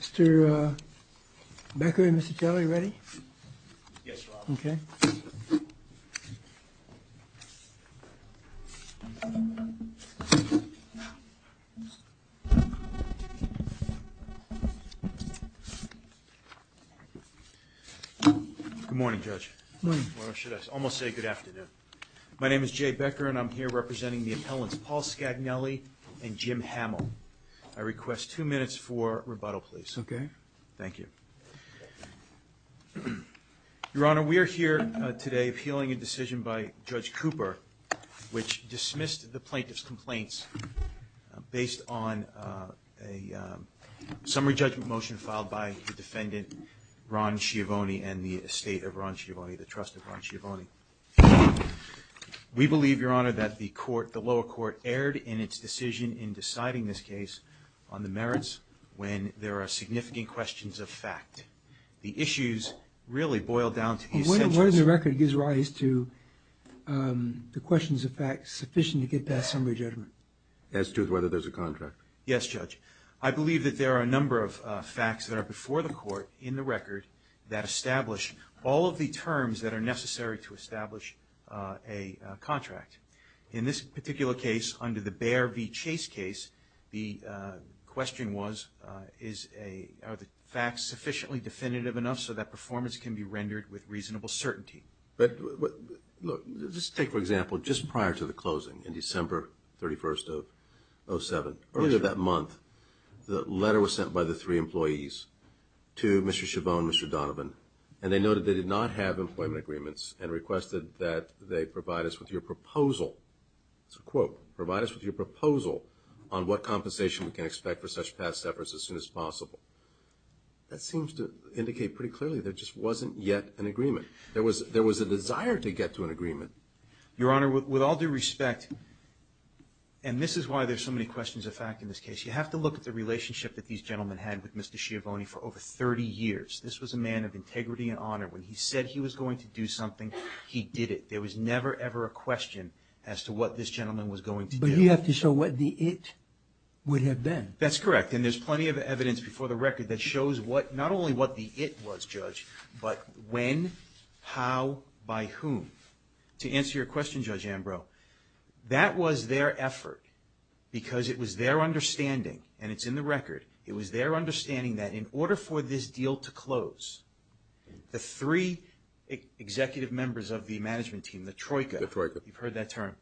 Mr. Becker and Mr. Jelle, are you ready? Yes, Your Honor. Okay. Good morning. Or should I almost say good afternoon? My name is Jay Becker and I'm here representing the appellants Paul Scagnelli and Jim Hamill. I request two minutes for rebuttal, please. Okay. Thank you. Your Honor, we are here today appealing a decision by Judge Cooper, which dismissed the plaintiff's complaints based on a summary judgment motion filed by the defendant Ron Schiavone and the estate of Ron Schiavone, the trust of Ron Schiavone. We believe, Your Honor, that the court, the lower court, erred in its decision in deciding this case on the merits when there are significant questions of fact. The issues really boil down to the essentials. What is the record that gives rise to the questions of fact sufficient to get past summary judgment? As to whether there's a contract. Yes, Judge. I believe that there are a number of facts that are before the court in the record that establish all of the terms that are necessary to establish a contract. In this particular case, under the Bayer v. Chase case, the question was, are the facts sufficiently definitive enough so that performance can be rendered with reasonable certainty? Just take, for example, just prior to the closing in December 31st of 2007. Earlier that month, the letter was sent by the three employees to Mr. Schiavone and Mr. Donovan, and they noted they did not have employment agreements and requested that they provide us with your proposal. It's a quote. Provide us with your proposal on what compensation we can expect for such past efforts as soon as possible. That seems to indicate pretty clearly there just wasn't yet an agreement. There was a desire to get to an agreement. Your Honor, with all due respect, and this is why there's so many questions of fact in this case, you have to look at the relationship that these gentlemen had with Mr. Schiavone for over 30 years. This was a man of integrity and honor. When he said he was going to do something, he did it. There was never, ever a question as to what this gentleman was going to do. But you have to show what the it would have been. That's correct, and there's plenty of evidence before the record that shows not only what the it was, Judge, but when, how, by whom. To answer your question, Judge Ambrose, that was their effort because it was their understanding, and it's in the record, it was their understanding that in order for this deal to close, the three executive members of the management team, the Troika, you've heard that term,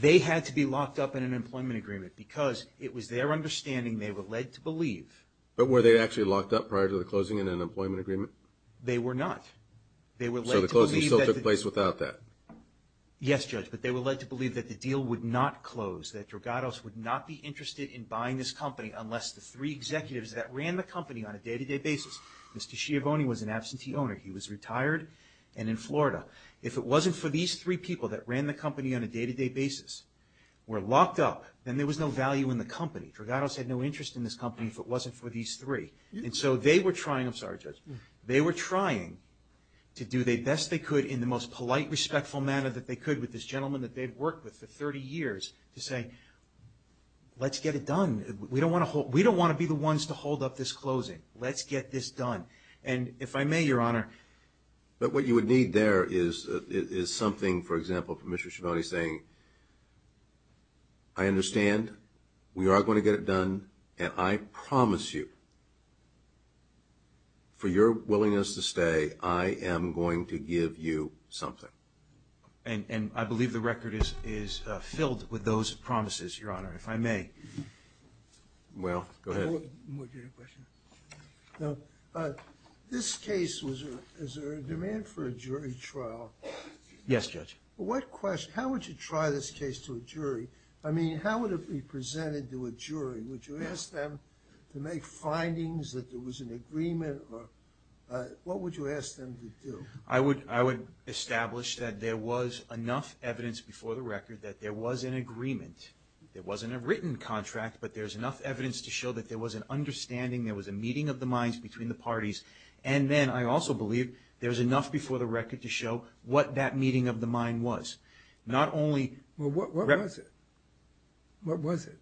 they had to be locked up in an employment agreement because it was their understanding they were led to believe. But were they actually locked up prior to the closing in an employment agreement? They were not. So the closing still took place without that? Yes, Judge, but they were led to believe that the deal would not close, that Dragados would not be interested in buying this company unless the three executives that ran the company on a day-to-day basis, Mr. Schiavone was an absentee owner. He was retired and in Florida. If it wasn't for these three people that ran the company on a day-to-day basis, were locked up, then there was no value in the company. Dragados had no interest in this company if it wasn't for these three. And so they were trying, I'm sorry, Judge. They were trying to do the best they could in the most polite, respectful manner that they could with this gentleman that they'd worked with for 30 years to say, let's get it done. We don't want to be the ones to hold up this closing. Let's get this done. And if I may, Your Honor. But what you would need there is something, for example, from Mr. Schiavone saying, I understand. We are going to get it done. And I promise you, for your willingness to stay, I am going to give you something. And I believe the record is filled with those promises, Your Honor, if I may. Well, go ahead. Now, this case, is there a demand for a jury trial? Yes, Judge. Well, how would you try this case to a jury? I mean, how would it be presented to a jury? Would you ask them to make findings that there was an agreement? What would you ask them to do? I would establish that there was enough evidence before the record that there was an agreement. It wasn't a written contract, but there's enough evidence to show that there was an understanding, there was a meeting of the minds between the parties. And then I also believe there's enough before the record to show what that meeting of the mind was. Not only... Well, what was it? What was it?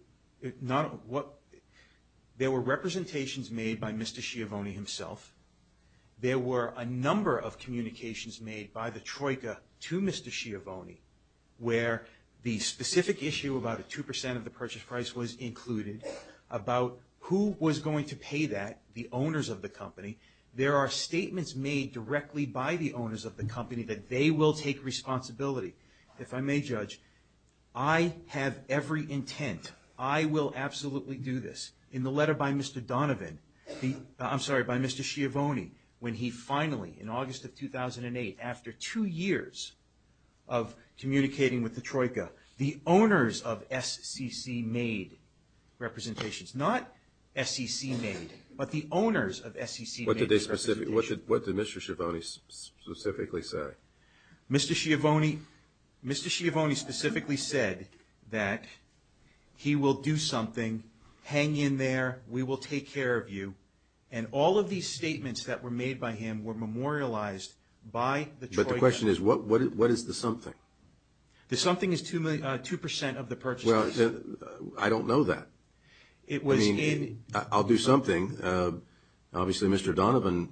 There were representations made by Mr. Schiavone himself. There were a number of communications made by the Troika to Mr. Schiavone, where the specific issue about a 2% of the purchase price was included, about who was going to pay that, the owners of the company. There are statements made directly by the owners of the company that they will take responsibility. If I may, Judge, I have every intent, I will absolutely do this. In the letter by Mr. Donovan, I'm sorry, by Mr. Schiavone, when he finally, in August of 2008, after two years of communicating with the Troika, the owners of SCC made representations. Not SCC made, but the owners of SCC made representations. What did Mr. Schiavone specifically say? Mr. Schiavone specifically said that he will do something, hang in there, we will take care of you. And all of these statements that were made by him were memorialized by the Troika. But the question is, what is the something? The something is 2% of the purchase price. Well, I don't know that. I mean, I'll do something. Obviously, Mr. Donovan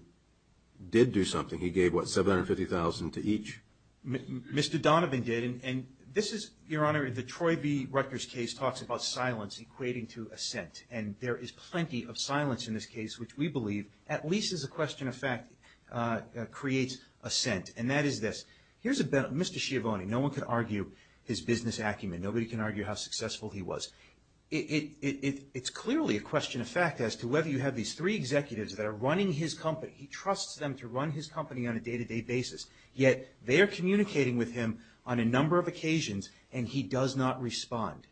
did do something. He gave, what, $750,000 to each? Mr. Donovan did. And this is, Your Honor, the Troy B. Rutgers case talks about silence equating to assent. And there is plenty of silence in this case, which we believe, at least as a question of fact, creates assent. And that is this. Mr. Schiavone, no one can argue his business acumen. Nobody can argue how successful he was. It's clearly a question of fact as to whether you have these three executives that are running his company. He trusts them to run his company on a day-to-day basis. Yet they are communicating with him on a number of occasions, and he does not respond.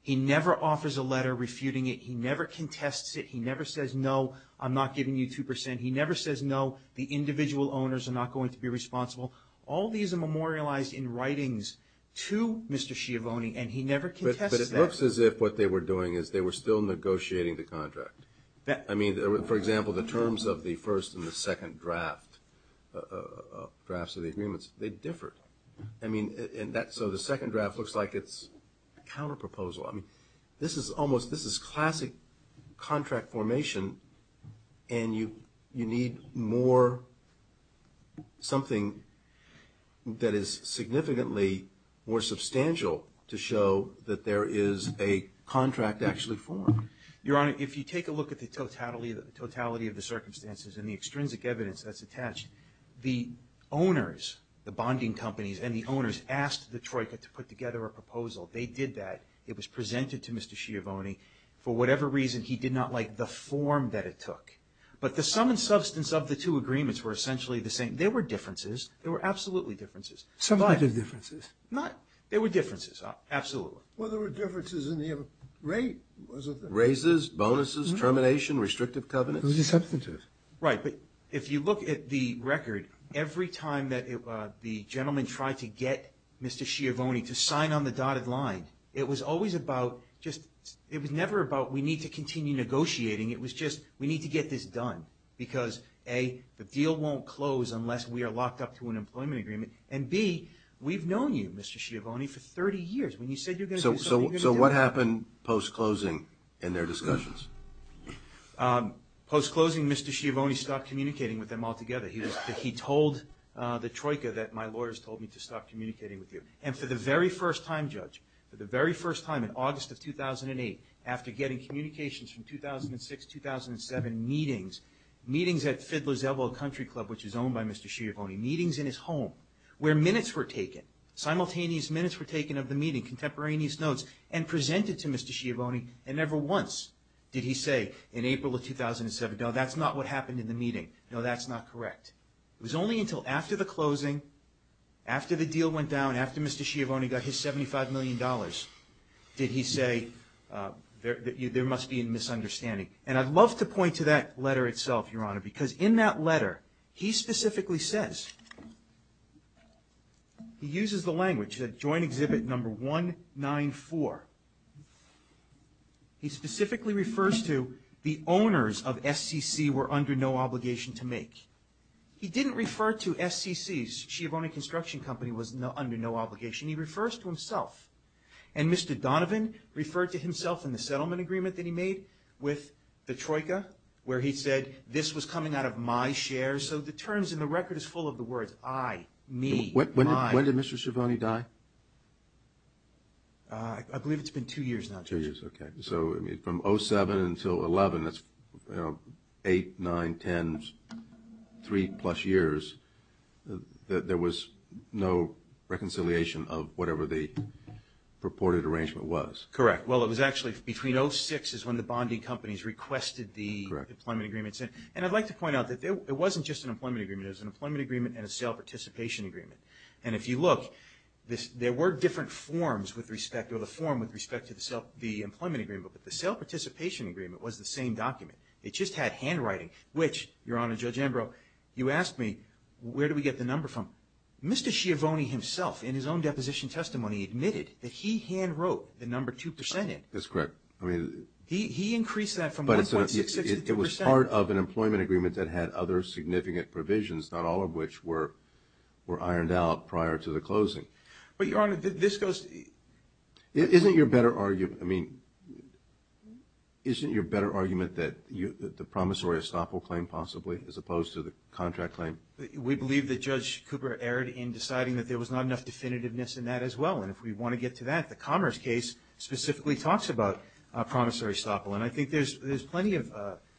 He never offers a letter refuting it. He never contests it. He never says, no, I'm not giving you 2%. He never says, no, the individual owners are not going to be responsible. All these are memorialized in writings to Mr. Schiavone, and he never contests that. But it looks as if what they were doing is they were still negotiating the contract. I mean, for example, the terms of the first and the second drafts of the agreements, they differed. I mean, so the second draft looks like it's a counterproposal. I mean, this is classic contract formation, and you need more something that is significantly more substantial to show that there is a contract actually formed. Your Honor, if you take a look at the totality of the circumstances and the extrinsic evidence that's attached, the owners, the bonding companies and the owners, asked the Troika to put together a proposal. They did that. It was presented to Mr. Schiavone. For whatever reason, he did not like the form that it took. But the sum and substance of the two agreements were essentially the same. There were differences. There were absolutely differences. Sum and differences? There were differences, absolutely. Well, there were differences in the rate, wasn't there? Raises, bonuses, termination, restrictive covenants? There was a substantive. Right. But if you look at the record, every time that the gentleman tried to get Mr. Schiavone to sign on the dotted line, it was always about just – it was never about we need to continue negotiating. It was just we need to get this done because, A, the deal won't close unless we are locked up to an employment agreement, and, B, we've known you, Mr. Schiavone, for 30 years. When you said you're going to do something, you're going to do it. So what happened post-closing in their discussions? Post-closing, Mr. Schiavone stopped communicating with them altogether. He told the troika that my lawyers told me to stop communicating with you. And for the very first time, Judge, for the very first time in August of 2008, after getting communications from 2006, 2007 meetings, meetings at Fiddler's Elbow Country Club, which was owned by Mr. Schiavone, meetings in his home where minutes were taken, simultaneous minutes were taken of the meeting, contemporaneous notes, and presented to Mr. Schiavone, and never once did he say in April of 2007, no, that's not what happened in the meeting. No, that's not correct. It was only until after the closing, after the deal went down, after Mr. Schiavone got his $75 million, did he say there must be a misunderstanding. And I'd love to point to that letter itself, Your Honor, because in that letter he specifically says – he uses the language, that joint exhibit number 194. He specifically refers to the owners of SCC were under no obligation to make. He didn't refer to SCC, Schiavone Construction Company, was under no obligation. He refers to himself. And Mr. Donovan referred to himself in the settlement agreement that he made with the troika, where he said, this was coming out of my shares, so the terms in the record is full of the words, I, me, my. When did Mr. Schiavone die? I believe it's been two years now, Judge. Two years, okay. So from 07 until 11, that's eight, nine, ten, three-plus years, there was no reconciliation of whatever the purported arrangement was. Correct. Well, it was actually between 06 is when the bonding companies requested the employment agreements. Correct. And I'd like to point out that it wasn't just an employment agreement. It was an employment agreement and a sale participation agreement. And if you look, there were different forms with respect to the employment agreement, but the sale participation agreement was the same document. It just had handwriting, which, Your Honor, Judge Ambrose, you asked me, where do we get the number from? Mr. Schiavone himself, in his own deposition testimony, admitted that he handwrote the number 2%. He increased that from 1.66 to 2%. It was part of an employment agreement that had other significant provisions, not all of which were ironed out prior to the closing. But, Your Honor, this goes to the – Isn't your better argument, I mean, isn't your better argument that the promissory estoppel claim possibly, as opposed to the contract claim? We believe that Judge Cooper erred in deciding that there was not enough definitiveness in that as well. And if we want to get to that, the Commerce case specifically talks about promissory estoppel. And I think there's plenty of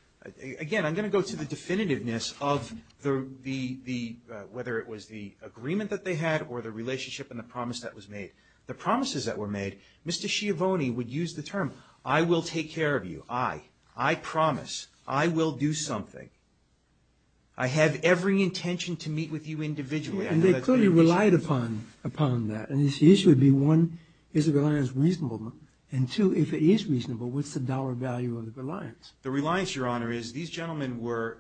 – again, I'm going to go to the definitiveness of the – whether it was the agreement that they had or the relationship and the promise that was made. The promises that were made, Mr. Schiavone would use the term, I will take care of you. I. I promise. I will do something. I have every intention to meet with you individually. And they clearly relied upon that. And the issue would be, one, is the reliance reasonable? And two, if it is reasonable, what's the dollar value of the reliance? The reliance, Your Honor, is these gentlemen were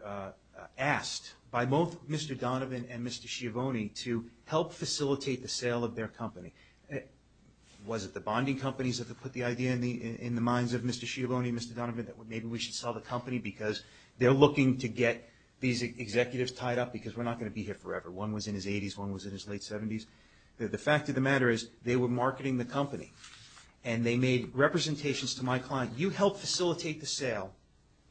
asked by both Mr. Donovan and Mr. Schiavone to help facilitate the sale of their company. Was it the bonding companies that put the idea in the minds of Mr. Schiavone and Mr. Donovan that maybe we should sell the company because they're looking to get these executives tied up because we're not going to be here forever? One was in his 80s, one was in his late 70s. The fact of the matter is they were marketing the company. And they made representations to my client. You help facilitate the sale.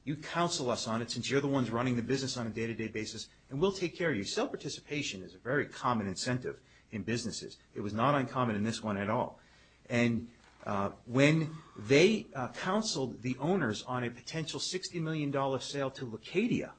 You counsel us on it since you're the ones running the business on a day-to-day basis. And we'll take care of you. Self-participation is a very common incentive in businesses. It was not uncommon in this one at all. And when they counseled the owners on a potential $60 million sale to Lacadia,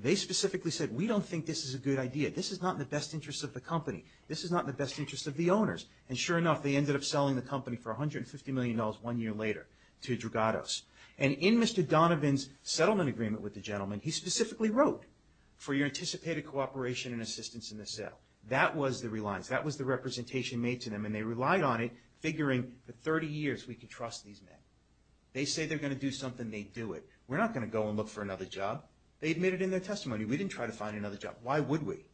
they specifically said, we don't think this is a good idea. This is not in the best interest of the company. This is not in the best interest of the owners. And sure enough, they ended up selling the company for $150 million one year later to Drogados. And in Mr. Donovan's settlement agreement with the gentleman, he specifically wrote, for your anticipated cooperation and assistance in the sale. That was the reliance. That was the representation made to them. And they relied on it, figuring for 30 years we could trust these men. They say they're going to do something. They do it. We're not going to go and look for another job. They admitted in their testimony we didn't try to find another job. Why would we?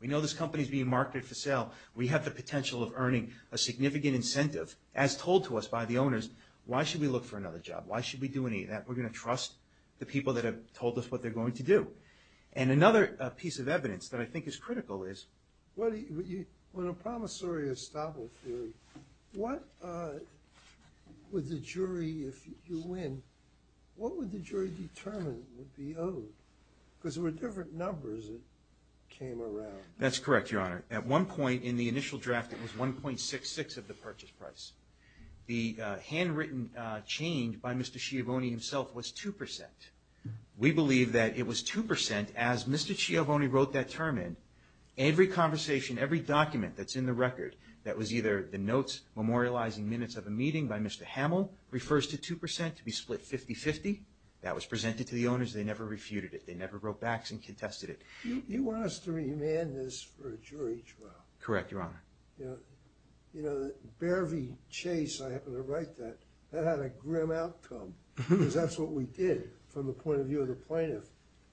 We know this company is being marketed for sale. We have the potential of earning a significant incentive, as told to us by the owners. Why should we look for another job? Why should we do any of that? We're going to trust the people that have told us what they're going to do. And another piece of evidence that I think is critical is… Well, in a promissory estoppel theory, what would the jury, if you win, what would the jury determine would be owed? Because there were different numbers that came around. That's correct, Your Honor. At one point in the initial draft, it was 1.66 of the purchase price. The handwritten change by Mr. Schiavone himself was 2%. We believe that it was 2% as Mr. Schiavone wrote that term in. Every conversation, every document that's in the record that was either the notes memorializing minutes of a meeting by Mr. Hamill refers to 2% to be split 50-50. That was presented to the owners. They never refuted it. They never wrote backs and contested it. You want us to remand this for a jury trial? Correct, Your Honor. You know, the Beare v. Chase, I happen to write that, that had a grim outcome because that's what we did from the point of view of the plaintiff.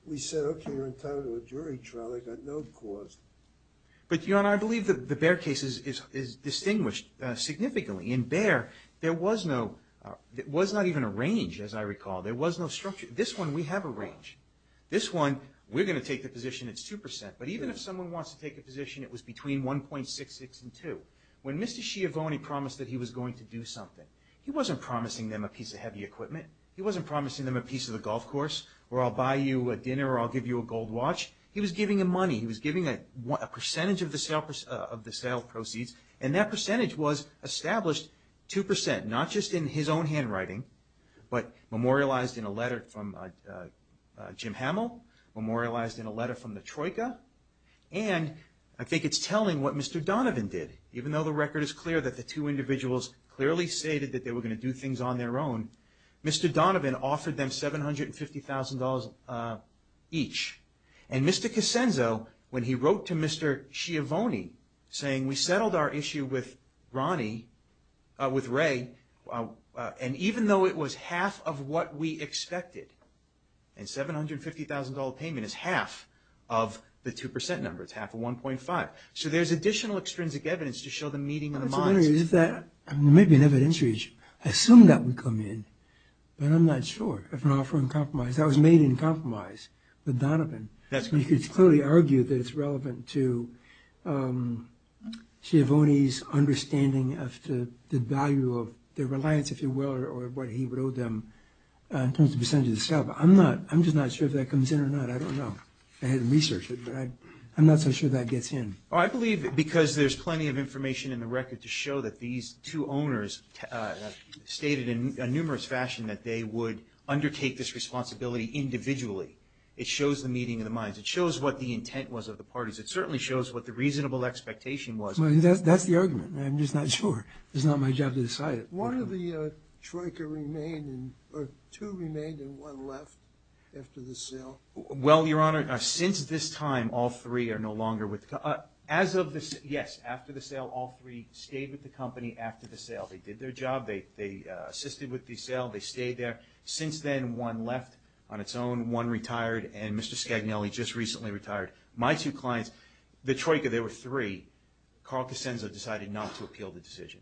We said, okay, you're entitled to a jury trial. They got no cause. But, Your Honor, I believe that the Beare case is distinguished significantly. In Beare, there was not even a range, as I recall. There was no structure. This one, we have a range. This one, we're going to take the position it's 2%, but even if someone wants to take a position, it was between 1.66 and 2. When Mr. Schiavone promised that he was going to do something, he wasn't promising them a piece of heavy equipment. He wasn't promising them a piece of the golf course or I'll buy you a dinner or I'll give you a gold watch. He was giving them money. He was giving a percentage of the sale proceeds, and that percentage was established 2%, not just in his own handwriting, but memorialized in a letter from Jim Hamill, memorialized in a letter from the Troika, and I think it's telling what Mr. Donovan did. Even though the record is clear that the two individuals clearly stated that they were going to do things on their own, Mr. Donovan offered them $750,000 each, and Mr. Casenzo, when he wrote to Mr. Schiavone saying, we settled our issue with Ronnie, with Ray, and even though it was half of what we expected, and $750,000 payment is half of the 2% number. It's half of 1.5. So there's additional extrinsic evidence to show the meeting of the minds. I'm just wondering if that, maybe an evidence reach, I assume that would come in, but I'm not sure if an offer uncompromised. That was made uncompromised with Donovan. You could clearly argue that it's relevant to Schiavone's understanding of the value of the reliance, if you will, or what he would owe them in terms of the percentage of the sale, but I'm just not sure if that comes in or not. I don't know. I had to research it, but I'm not so sure that gets in. I believe because there's plenty of information in the record to show that these two owners stated in a numerous fashion that they would undertake this responsibility individually. It shows the meeting of the minds. It shows what the intent was of the parties. It certainly shows what the reasonable expectation was. That's the argument. I'm just not sure. It's not my job to decide it. Why do the Troika remain, or two remain and one left after the sale? Well, Your Honor, since this time, all three are no longer with the company. As of this, yes, after the sale, all three stayed with the company after the sale. They did their job. They assisted with the sale. They stayed there. Since then, one left on its own, one retired, and Mr. Scagnelli just recently retired. My two clients, the Troika, there were three. Carl Casenzo decided not to appeal the decision.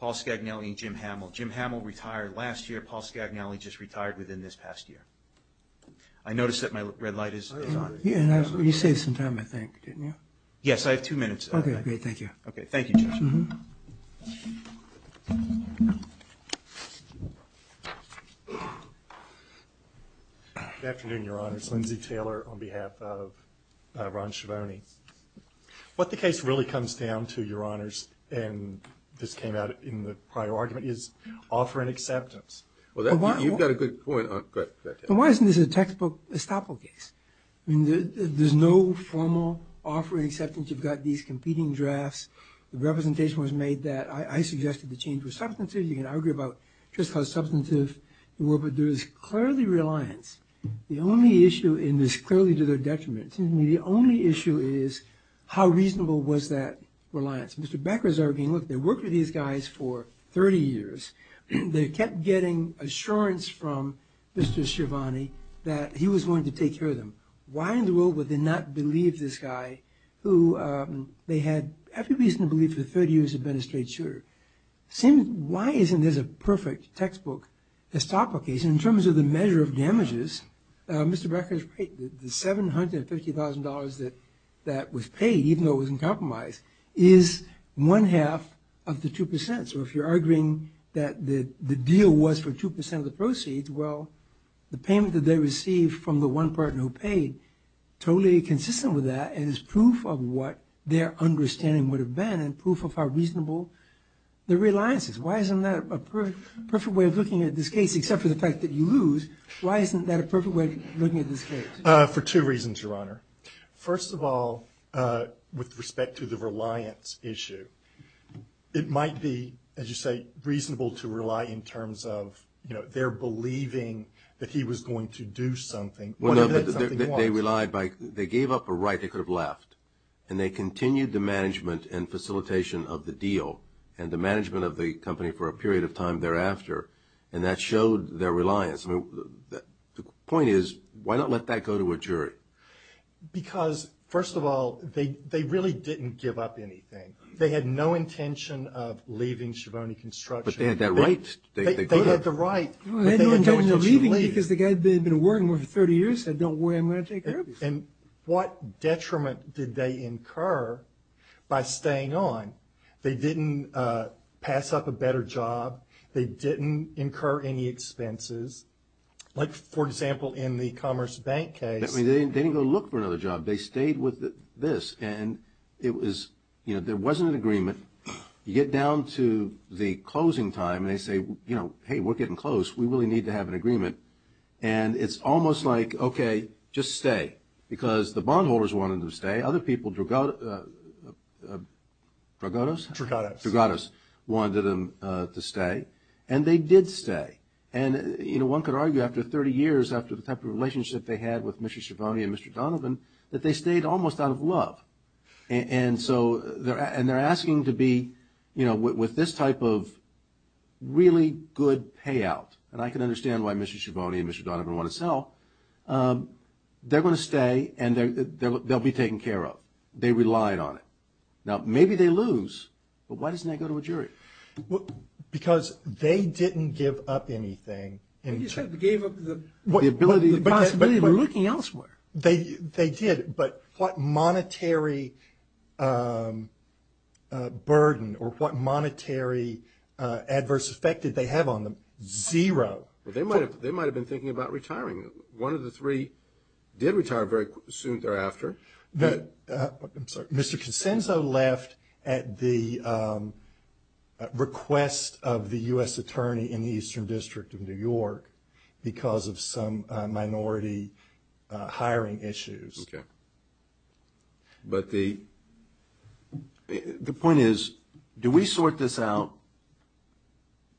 Paul Scagnelli and Jim Hamill. Jim Hamill retired last year. Paul Scagnelli just retired within this past year. I notice that my red light is on. You saved some time, I think, didn't you? Yes, I have two minutes. Okay, great. Thank you. Okay, thank you, Judge. Good afternoon, Your Honors. Lindsay Taylor on behalf of Ron Schivone. What the case really comes down to, Your Honors, and this came out in the prior argument, is offering acceptance. You've got a good point. But why isn't this a textbook estoppel case? I mean, there's no formal offering acceptance. You've got these competing drafts. The representation was made that I suggested the change was substantive. You can argue about just how substantive it were, but there is clearly reliance. The only issue, and this is clearly to their detriment, the only issue is how reasonable was that reliance? Mr. Becker is arguing, look, they worked with these guys for 30 years. They kept getting assurance from Mr. Schivone that he was going to take care of them. Why in the world would they not believe this guy, who they had every reason to believe for 30 years had been a straight shooter? Why isn't this a perfect textbook estoppel case in terms of the measure of damages? Mr. Becker is right. The $750,000 that was paid, even though it was in compromise, is one-half of the 2%. Well, the payment that they received from the one person who paid totally consistent with that and is proof of what their understanding would have been and proof of how reasonable their reliance is. Why isn't that a perfect way of looking at this case, except for the fact that you lose? Why isn't that a perfect way of looking at this case? For two reasons, Your Honor. First of all, with respect to the reliance issue, it might be, as you say, reasonable to rely in terms of their believing that he was going to do something, whatever that something was. They gave up a right they could have left, and they continued the management and facilitation of the deal and the management of the company for a period of time thereafter, and that showed their reliance. The point is, why not let that go to a jury? Because, first of all, they really didn't give up anything. They had no intention of leaving Schiavone Construction. But they had that right. They did. They had the right. They had no intention of leaving because the guy had been working there for 30 years and said, don't worry, I'm going to take care of you. And what detriment did they incur by staying on? They didn't pass up a better job. They didn't incur any expenses. Like, for example, in the Commerce Bank case. They didn't go look for another job. They stayed with this. And it was, you know, there wasn't an agreement. You get down to the closing time, and they say, you know, hey, we're getting close. We really need to have an agreement. And it's almost like, okay, just stay, because the bondholders wanted them to stay. Other people, Drogados wanted them to stay, and they did stay. And, you know, one could argue after 30 years, after the type of relationship they had with Mr. Schiavone and Mr. Donovan, that they stayed almost out of love. And so they're asking to be, you know, with this type of really good payout, and I can understand why Mr. Schiavone and Mr. Donovan want to sell, they're going to stay, and they'll be taken care of. They relied on it. Now, maybe they lose, but why doesn't that go to a jury? Because they didn't give up anything. You said they gave up the possibility of looking elsewhere. They did, but what monetary burden or what monetary adverse effect did they have on them? Zero. They might have been thinking about retiring. One of the three did retire very soon thereafter. I'm sorry. Mr. Consenso left at the request of the U.S. attorney in the Eastern District of New York because of some minority hiring issues. Okay. But the point is, do we sort this out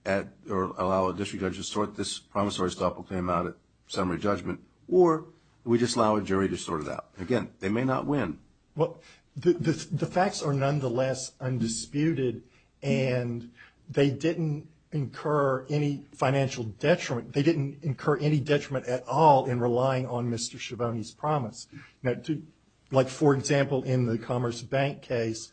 or allow a district judge to sort this promissory stop or claim out at summary judgment, or do we just allow a jury to sort it out? Again, they may not win. Well, the facts are nonetheless undisputed, and they didn't incur any financial detriment. They didn't incur any detriment at all in relying on Mr. Schiavone's promise. Like, for example, in the Commerce Bank case,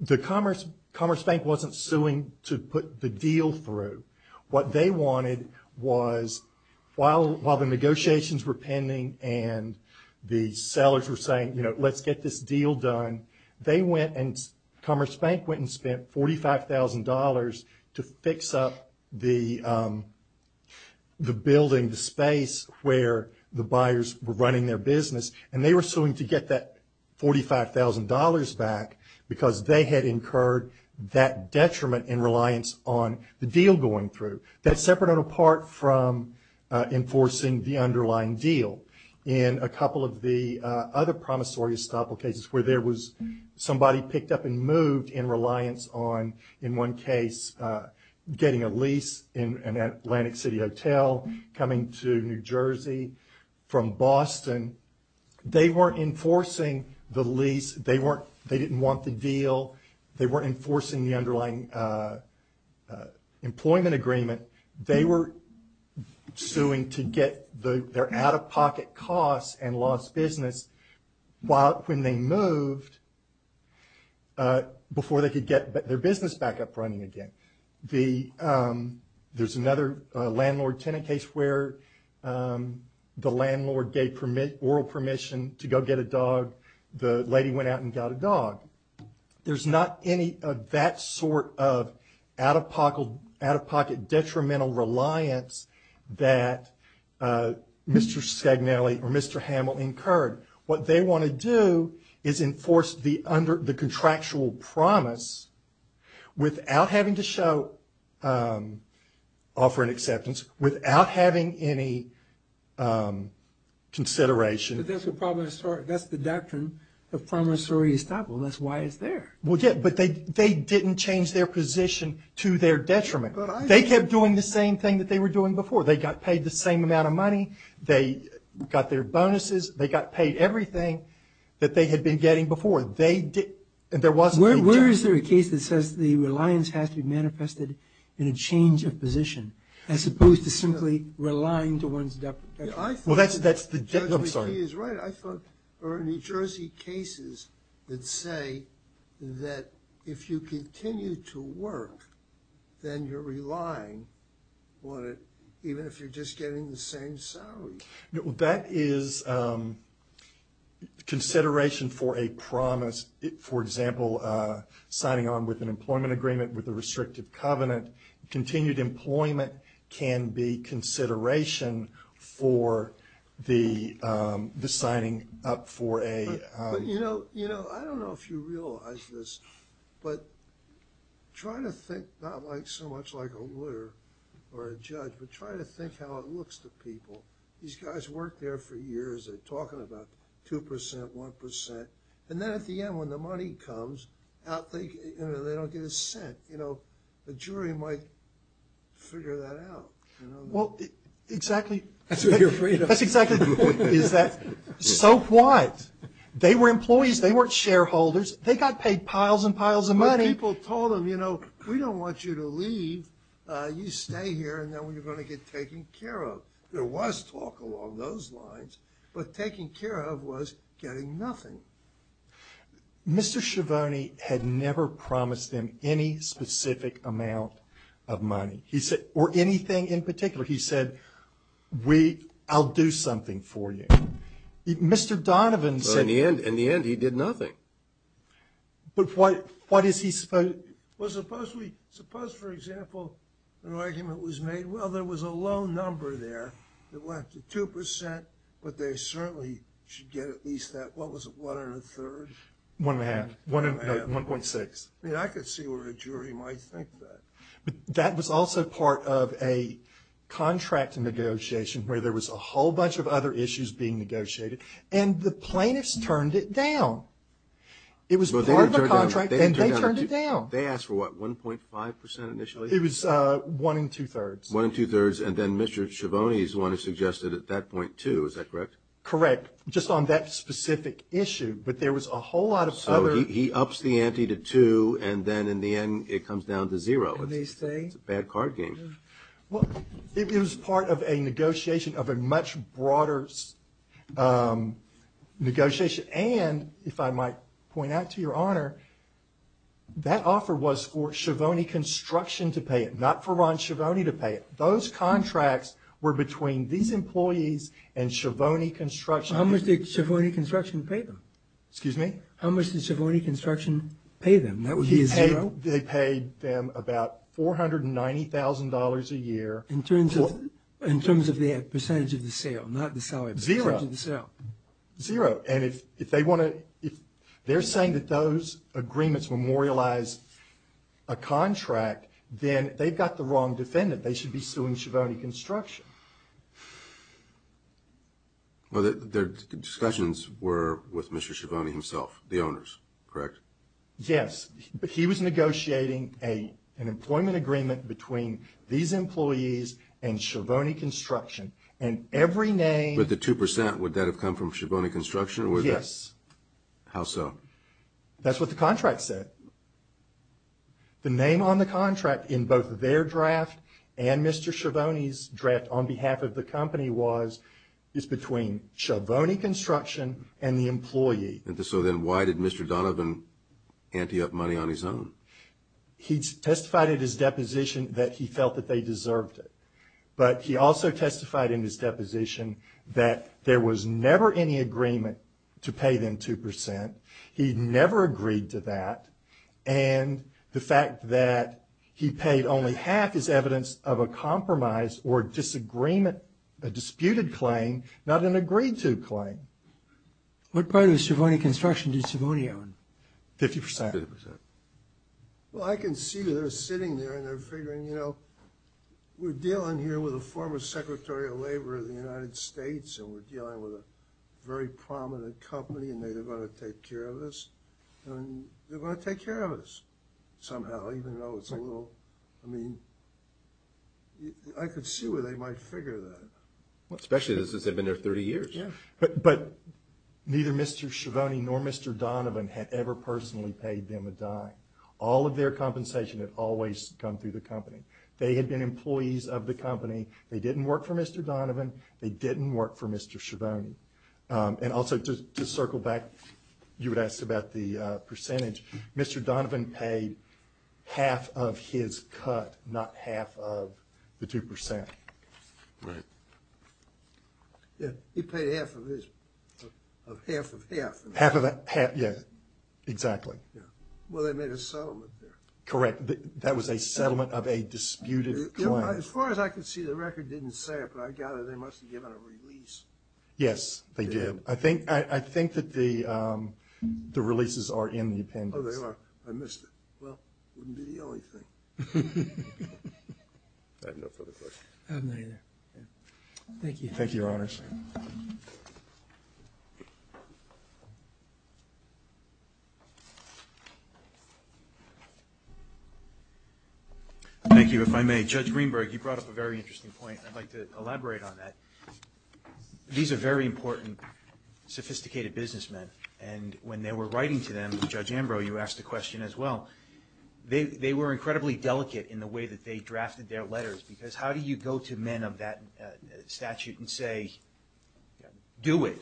the Commerce Bank wasn't suing to put the deal through. What they wanted was while the negotiations were pending and the sellers were saying, you know, let's get this deal done, they went and Commerce Bank went and spent $45,000 to fix up the building, the space, where the buyers were running their business, and they were suing to get that $45,000 back because they had incurred that detriment in reliance on the deal going through. That's separate and apart from enforcing the underlying deal. In a couple of the other promissory estoppel cases where there was somebody picked up and moved in reliance on, in one case, getting a lease in an Atlantic City hotel coming to New Jersey from Boston, they weren't enforcing the lease. They didn't want the deal. They weren't enforcing the underlying employment agreement. They were suing to get their out-of-pocket costs and lost business. When they moved, before they could get their business back up and running again, there's another landlord-tenant case where the landlord gave oral permission to go get a dog. The lady went out and got a dog. There's not any of that sort of out-of-pocket detrimental reliance that Mr. Scagnelli or Mr. Hamill incurred. What they want to do is enforce the contractual promise without having to show or offer an acceptance, without having any consideration. But that's the doctrine of promissory estoppel. That's why it's there. Well, yeah, but they didn't change their position to their detriment. They kept doing the same thing that they were doing before. They got paid the same amount of money. They got their bonuses. They got paid everything that they had been getting before. Where is there a case that says the reliance has to be manifested in a change of position as opposed to simply relying to one's debt protection? Well, that's the difference. I thought there were New Jersey cases that say that if you continue to work, then you're relying on it even if you're just getting the same salary. That is consideration for a promise. For example, signing on with an employment agreement with a restrictive covenant. Continued employment can be consideration for the signing up for a— I don't know if you realize this, but try to think not so much like a lawyer or a judge, but try to think how it looks to people. These guys worked there for years. They're talking about 2%, 1%. And then at the end when the money comes, they don't get a cent. The jury might figure that out. Well, exactly. That's what you're afraid of. So what? They were employees. They weren't shareholders. They got paid piles and piles of money. But people told them, you know, we don't want you to leave. You stay here, and then we're going to get taken care of. There was talk along those lines, but taking care of was getting nothing. Mr. Schiavone had never promised them any specific amount of money or anything in particular. He said, I'll do something for you. Mr. Donovan said— In the end, he did nothing. But what is he supposed— Well, suppose, for example, an argument was made, well, there was a low number there. It went up to 2%, but they certainly should get at least that. What was it? One and a third? One and a half. No, 1.6. I mean, I could see where a jury might think that. But that was also part of a contract negotiation where there was a whole bunch of other issues being negotiated, and the plaintiffs turned it down. It was part of the contract, and they turned it down. They asked for what, 1.5% initially? It was one and two-thirds. One and two-thirds, and then Mr. Schiavone is the one who suggested at that point two. Is that correct? Correct, just on that specific issue. But there was a whole lot of other— He ups the ante to two, and then in the end it comes down to zero. It's a bad card game. Well, it was part of a negotiation of a much broader negotiation, and if I might point out to Your Honor, that offer was for Schiavone Construction to pay it, not for Ron Schiavone to pay it. Those contracts were between these employees and Schiavone Construction. How much did Schiavone Construction pay them? Excuse me? How much did Schiavone Construction pay them? That would be a zero? They paid them about $490,000 a year. In terms of their percentage of the sale, not the salary percentage of the sale? Zero. Zero. And if they want to—if they're saying that those agreements memorialize a contract, then they've got the wrong defendant. They should be suing Schiavone Construction. Well, their discussions were with Mr. Schiavone himself, the owners, correct? Yes, but he was negotiating an employment agreement between these employees and Schiavone Construction, and every name— But the 2%, would that have come from Schiavone Construction? Yes. How so? That's what the contract said. The name on the contract in both their draft and Mr. Schiavone's draft on behalf of the company was it's between Schiavone Construction and the employee. So then why did Mr. Donovan ante up money on his own? He testified at his deposition that he felt that they deserved it, but he also testified in his deposition that there was never any agreement to pay them 2%. He never agreed to that, and the fact that he paid only half is evidence of a compromise or disagreement—a disputed claim, not an agreed-to claim. What part of Schiavone Construction did Schiavone own? 50%. 50%. Well, I can see that they're sitting there and they're figuring, you know, we're dealing here with a former Secretary of Labor of the United States, and we're dealing with a very prominent company, and they're going to take care of this. And they're going to take care of this somehow, even though it's a little—I mean, I could see where they might figure that. Especially since they've been there 30 years. But neither Mr. Schiavone nor Mr. Donovan had ever personally paid them a dime. All of their compensation had always come through the company. They had been employees of the company. They didn't work for Mr. Donovan. They didn't work for Mr. Schiavone. And also, to circle back, you would ask about the percentage. Mr. Donovan paid half of his cut, not half of the 2%. Right. He paid half of his—of half of half. Half of half, yeah, exactly. Well, they made a settlement there. Correct. That was a settlement of a disputed claim. As far as I can see, the record didn't say it, but I gather they must have given a release. Yes, they did. I think that the releases are in the appendix. Oh, they are. I missed it. Well, it wouldn't be the only thing. I have no further questions. I have none either. Thank you. Thank you, Your Honors. Thank you. Thank you, if I may. Judge Greenberg, you brought up a very interesting point. I'd like to elaborate on that. These are very important, sophisticated businessmen. And when they were writing to them, Judge Ambrose, you asked a question as well. They were incredibly delicate in the way that they drafted their letters, because how do you go to men of that statute and say, do it?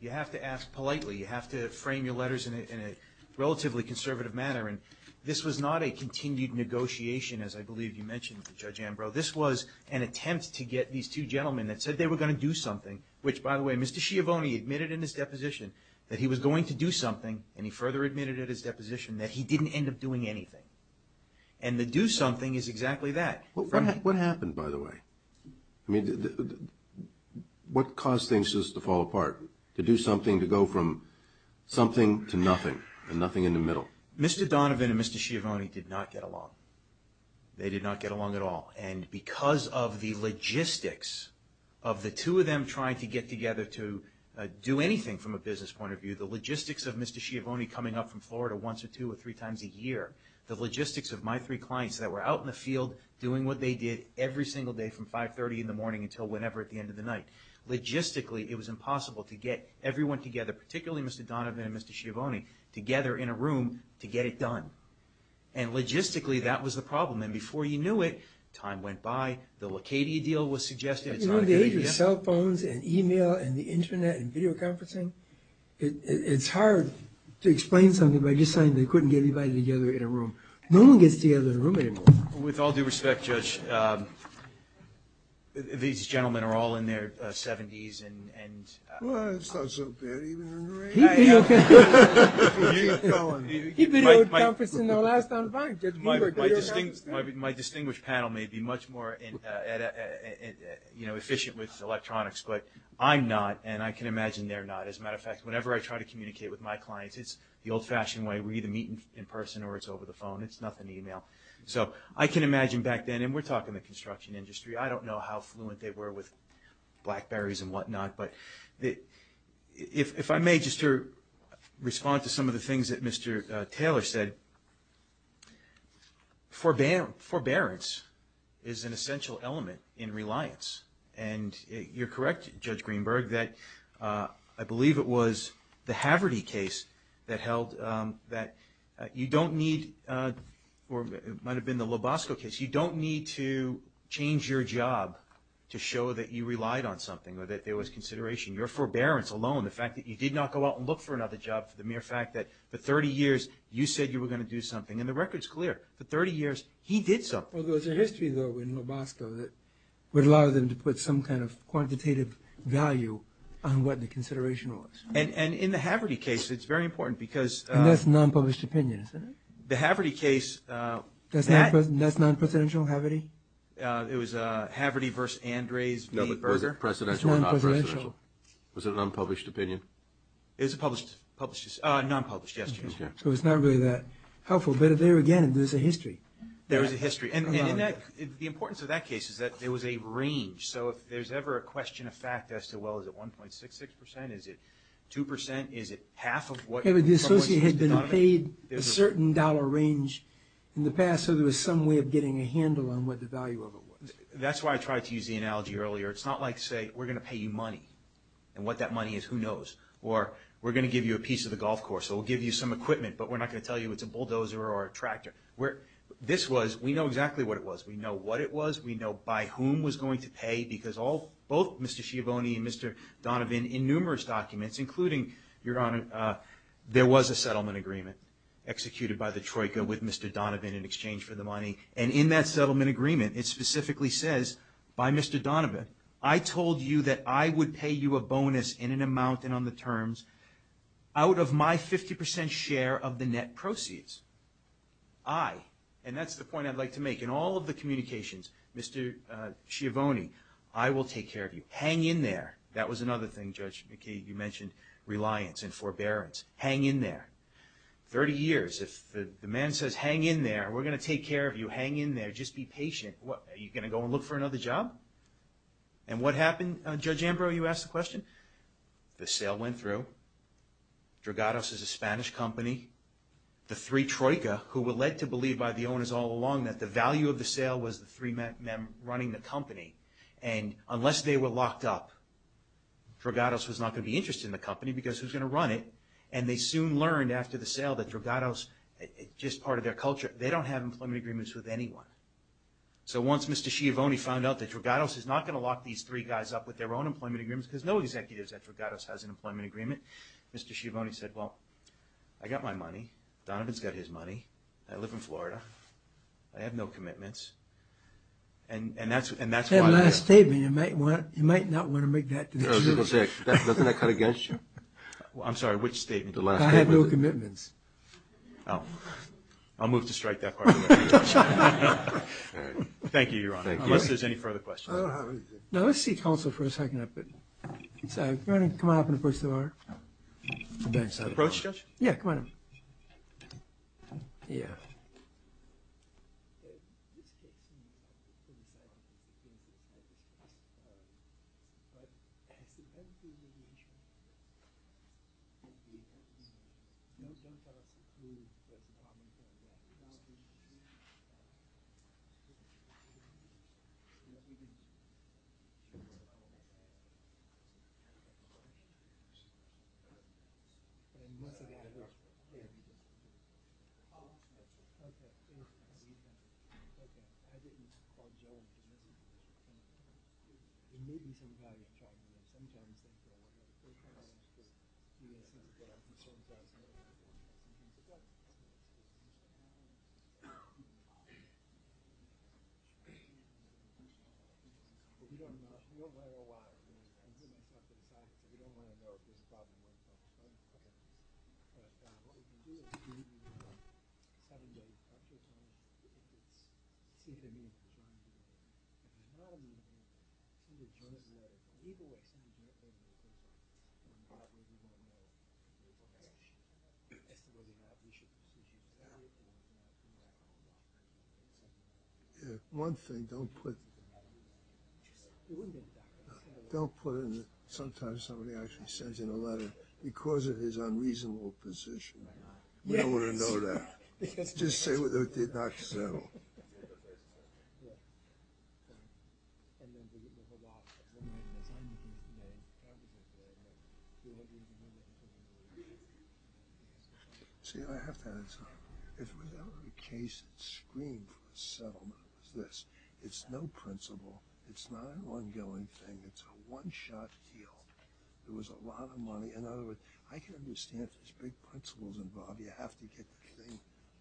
You have to ask politely. You have to frame your letters in a relatively conservative manner. And this was not a continued negotiation, as I believe you mentioned, Judge Ambrose. This was an attempt to get these two gentlemen that said they were going to do something, which, by the way, Mr. Schiavone admitted in his deposition that he was going to do something, and he further admitted at his deposition that he didn't end up doing anything. And the do something is exactly that. What happened, by the way? I mean, what caused things just to fall apart, to do something, to go from something to nothing and nothing in the middle? Mr. Donovan and Mr. Schiavone did not get along. They did not get along at all. And because of the logistics of the two of them trying to get together to do anything from a business point of view, the logistics of Mr. Schiavone coming up from Florida once or two or three times a year, the logistics of my three clients that were out in the field doing what they did every single day from 530 in the morning until whenever at the end of the night. Logistically, it was impossible to get everyone together, particularly Mr. Donovan and Mr. Schiavone, together in a room to get it done. And logistically, that was the problem. And before you knew it, time went by. The Lacadia deal was suggested. It's not a good idea. At the age of cell phones and e-mail and the Internet and video conferencing, it's hard to explain something by just saying they couldn't get anybody together in a room. No one gets together in a room anymore. With all due respect, Judge, these gentlemen are all in their 70s and… Well, it's not so bad even in the rain. He did okay. He did okay. He did okay. He did okay with conferencing the last time around. My distinguished panel may be much more, you know, efficient with electronics, but I'm not, and I can imagine they're not. As a matter of fact, whenever I try to communicate with my clients, it's the old-fashioned way. We either meet in person or it's over the phone. It's nothing e-mail. So I can imagine back then, and we're talking the construction industry. I don't know how fluent they were with BlackBerrys and whatnot. But if I may just respond to some of the things that Mr. Taylor said, forbearance is an essential element in reliance. And you're correct, Judge Greenberg, that I believe it was the Haverty case that held that you don't need or it might have been the LoBosco case, you don't need to change your job to show that you relied on something or that there was consideration. Your forbearance alone, the fact that you did not go out and look for another job for the mere fact that for 30 years you said you were going to do something, and the record's clear. For 30 years, he did something. Well, there's a history, though, in LoBosco that would allow them to put some kind of quantitative value on what the consideration was. And in the Haverty case, it's very important because... And that's non-published opinion, isn't it? The Haverty case... That's non-presidential, Haverty? It was Haverty v. Andres v. Berger. It's non-presidential. Was it an unpublished opinion? It was a non-published gesture. So it's not really that helpful, but there again, there's a history. There's a history. And the importance of that case is that there was a range. So if there's ever a question of fact as to, well, is it 1.66 percent? Is it 2 percent? Is it half of what... The associate had been paid a certain dollar range in the past, so there was some way of getting a handle on what the value of it was. That's why I tried to use the analogy earlier. It's not like, say, we're going to pay you money, and what that money is, who knows? Or we're going to give you a piece of the golf course, or we'll give you some equipment, but we're not going to tell you it's a bulldozer or a tractor. This was, we know exactly what it was. We know what it was. We know by whom it was going to pay, because both Mr. Schiavone and Mr. Donovan, in numerous documents, including, Your Honor, there was a settlement agreement executed by the Troika with Mr. Donovan in exchange for the money. And in that settlement agreement, it specifically says by Mr. Donovan, I told you that I would pay you a bonus in an amount and on the terms out of my 50% share of the net proceeds. I, and that's the point I'd like to make, in all of the communications, Mr. Schiavone, I will take care of you. Hang in there. That was another thing, Judge McCabe, you mentioned reliance and forbearance. Hang in there. 30 years, if the man says, hang in there, we're going to take care of you. Hang in there. Just be patient. Are you going to go and look for another job? And what happened, Judge Ambrose, you asked the question? The sale went through. Drogados is a Spanish company. The three Troika, who were led to believe by the owners all along that the value of the sale was the three men running the company. And unless they were locked up, Drogados was not going to be interested in the company because who's going to run it? And they soon learned after the sale that Drogados, just part of their culture, they don't have employment agreements with anyone. So once Mr. Schiavone found out that Drogados is not going to lock these three guys up with their own employment agreements because no executive at Drogados has an employment agreement, Mr. Schiavone said, well, I got my money. Donovan's got his money. I live in Florida. I have no commitments. And that's why I'm here. That last statement, you might not want to make that to the jury. That's nothing I cut against you. I'm sorry, which statement? The last statement. I have no commitments. Oh. I'll move to strike that part of the argument. Thank you, Your Honor. Thank you. Unless there's any further questions. No, let's see counsel for a second. Come on up and approach the bar. Approach, Judge? Yeah, come on up. Yeah. Okay. Okay. Okay. Okay. Okay. Okay. Okay. One thing, don't put – don't put it in – don't put it in the – sometimes somebody actually sends in a letter because of his unreasonable position. We don't want to know that. Just say what the doctor said. No. See, I have to add something. If we're going to have a case scream settlement, it's this. It's no principle. It's not an ongoing thing. It's a one-shot deal. There was a lot of money. In other words, I can understand if there's big principles involved. You have to get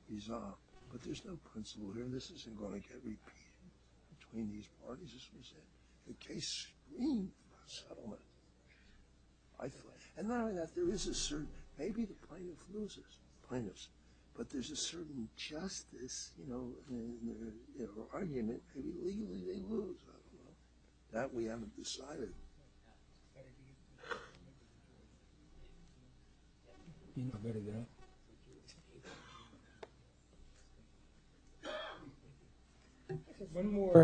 these off. But there's no principle here. This isn't going to get repeated between these parties, is what I'm saying. The case scream settlement, I thought – and not only that, there is a certain – maybe the plaintiff loses. Plaintiffs. But there's a certain justice, you know, argument. Illegally they lose. That we haven't decided. One more.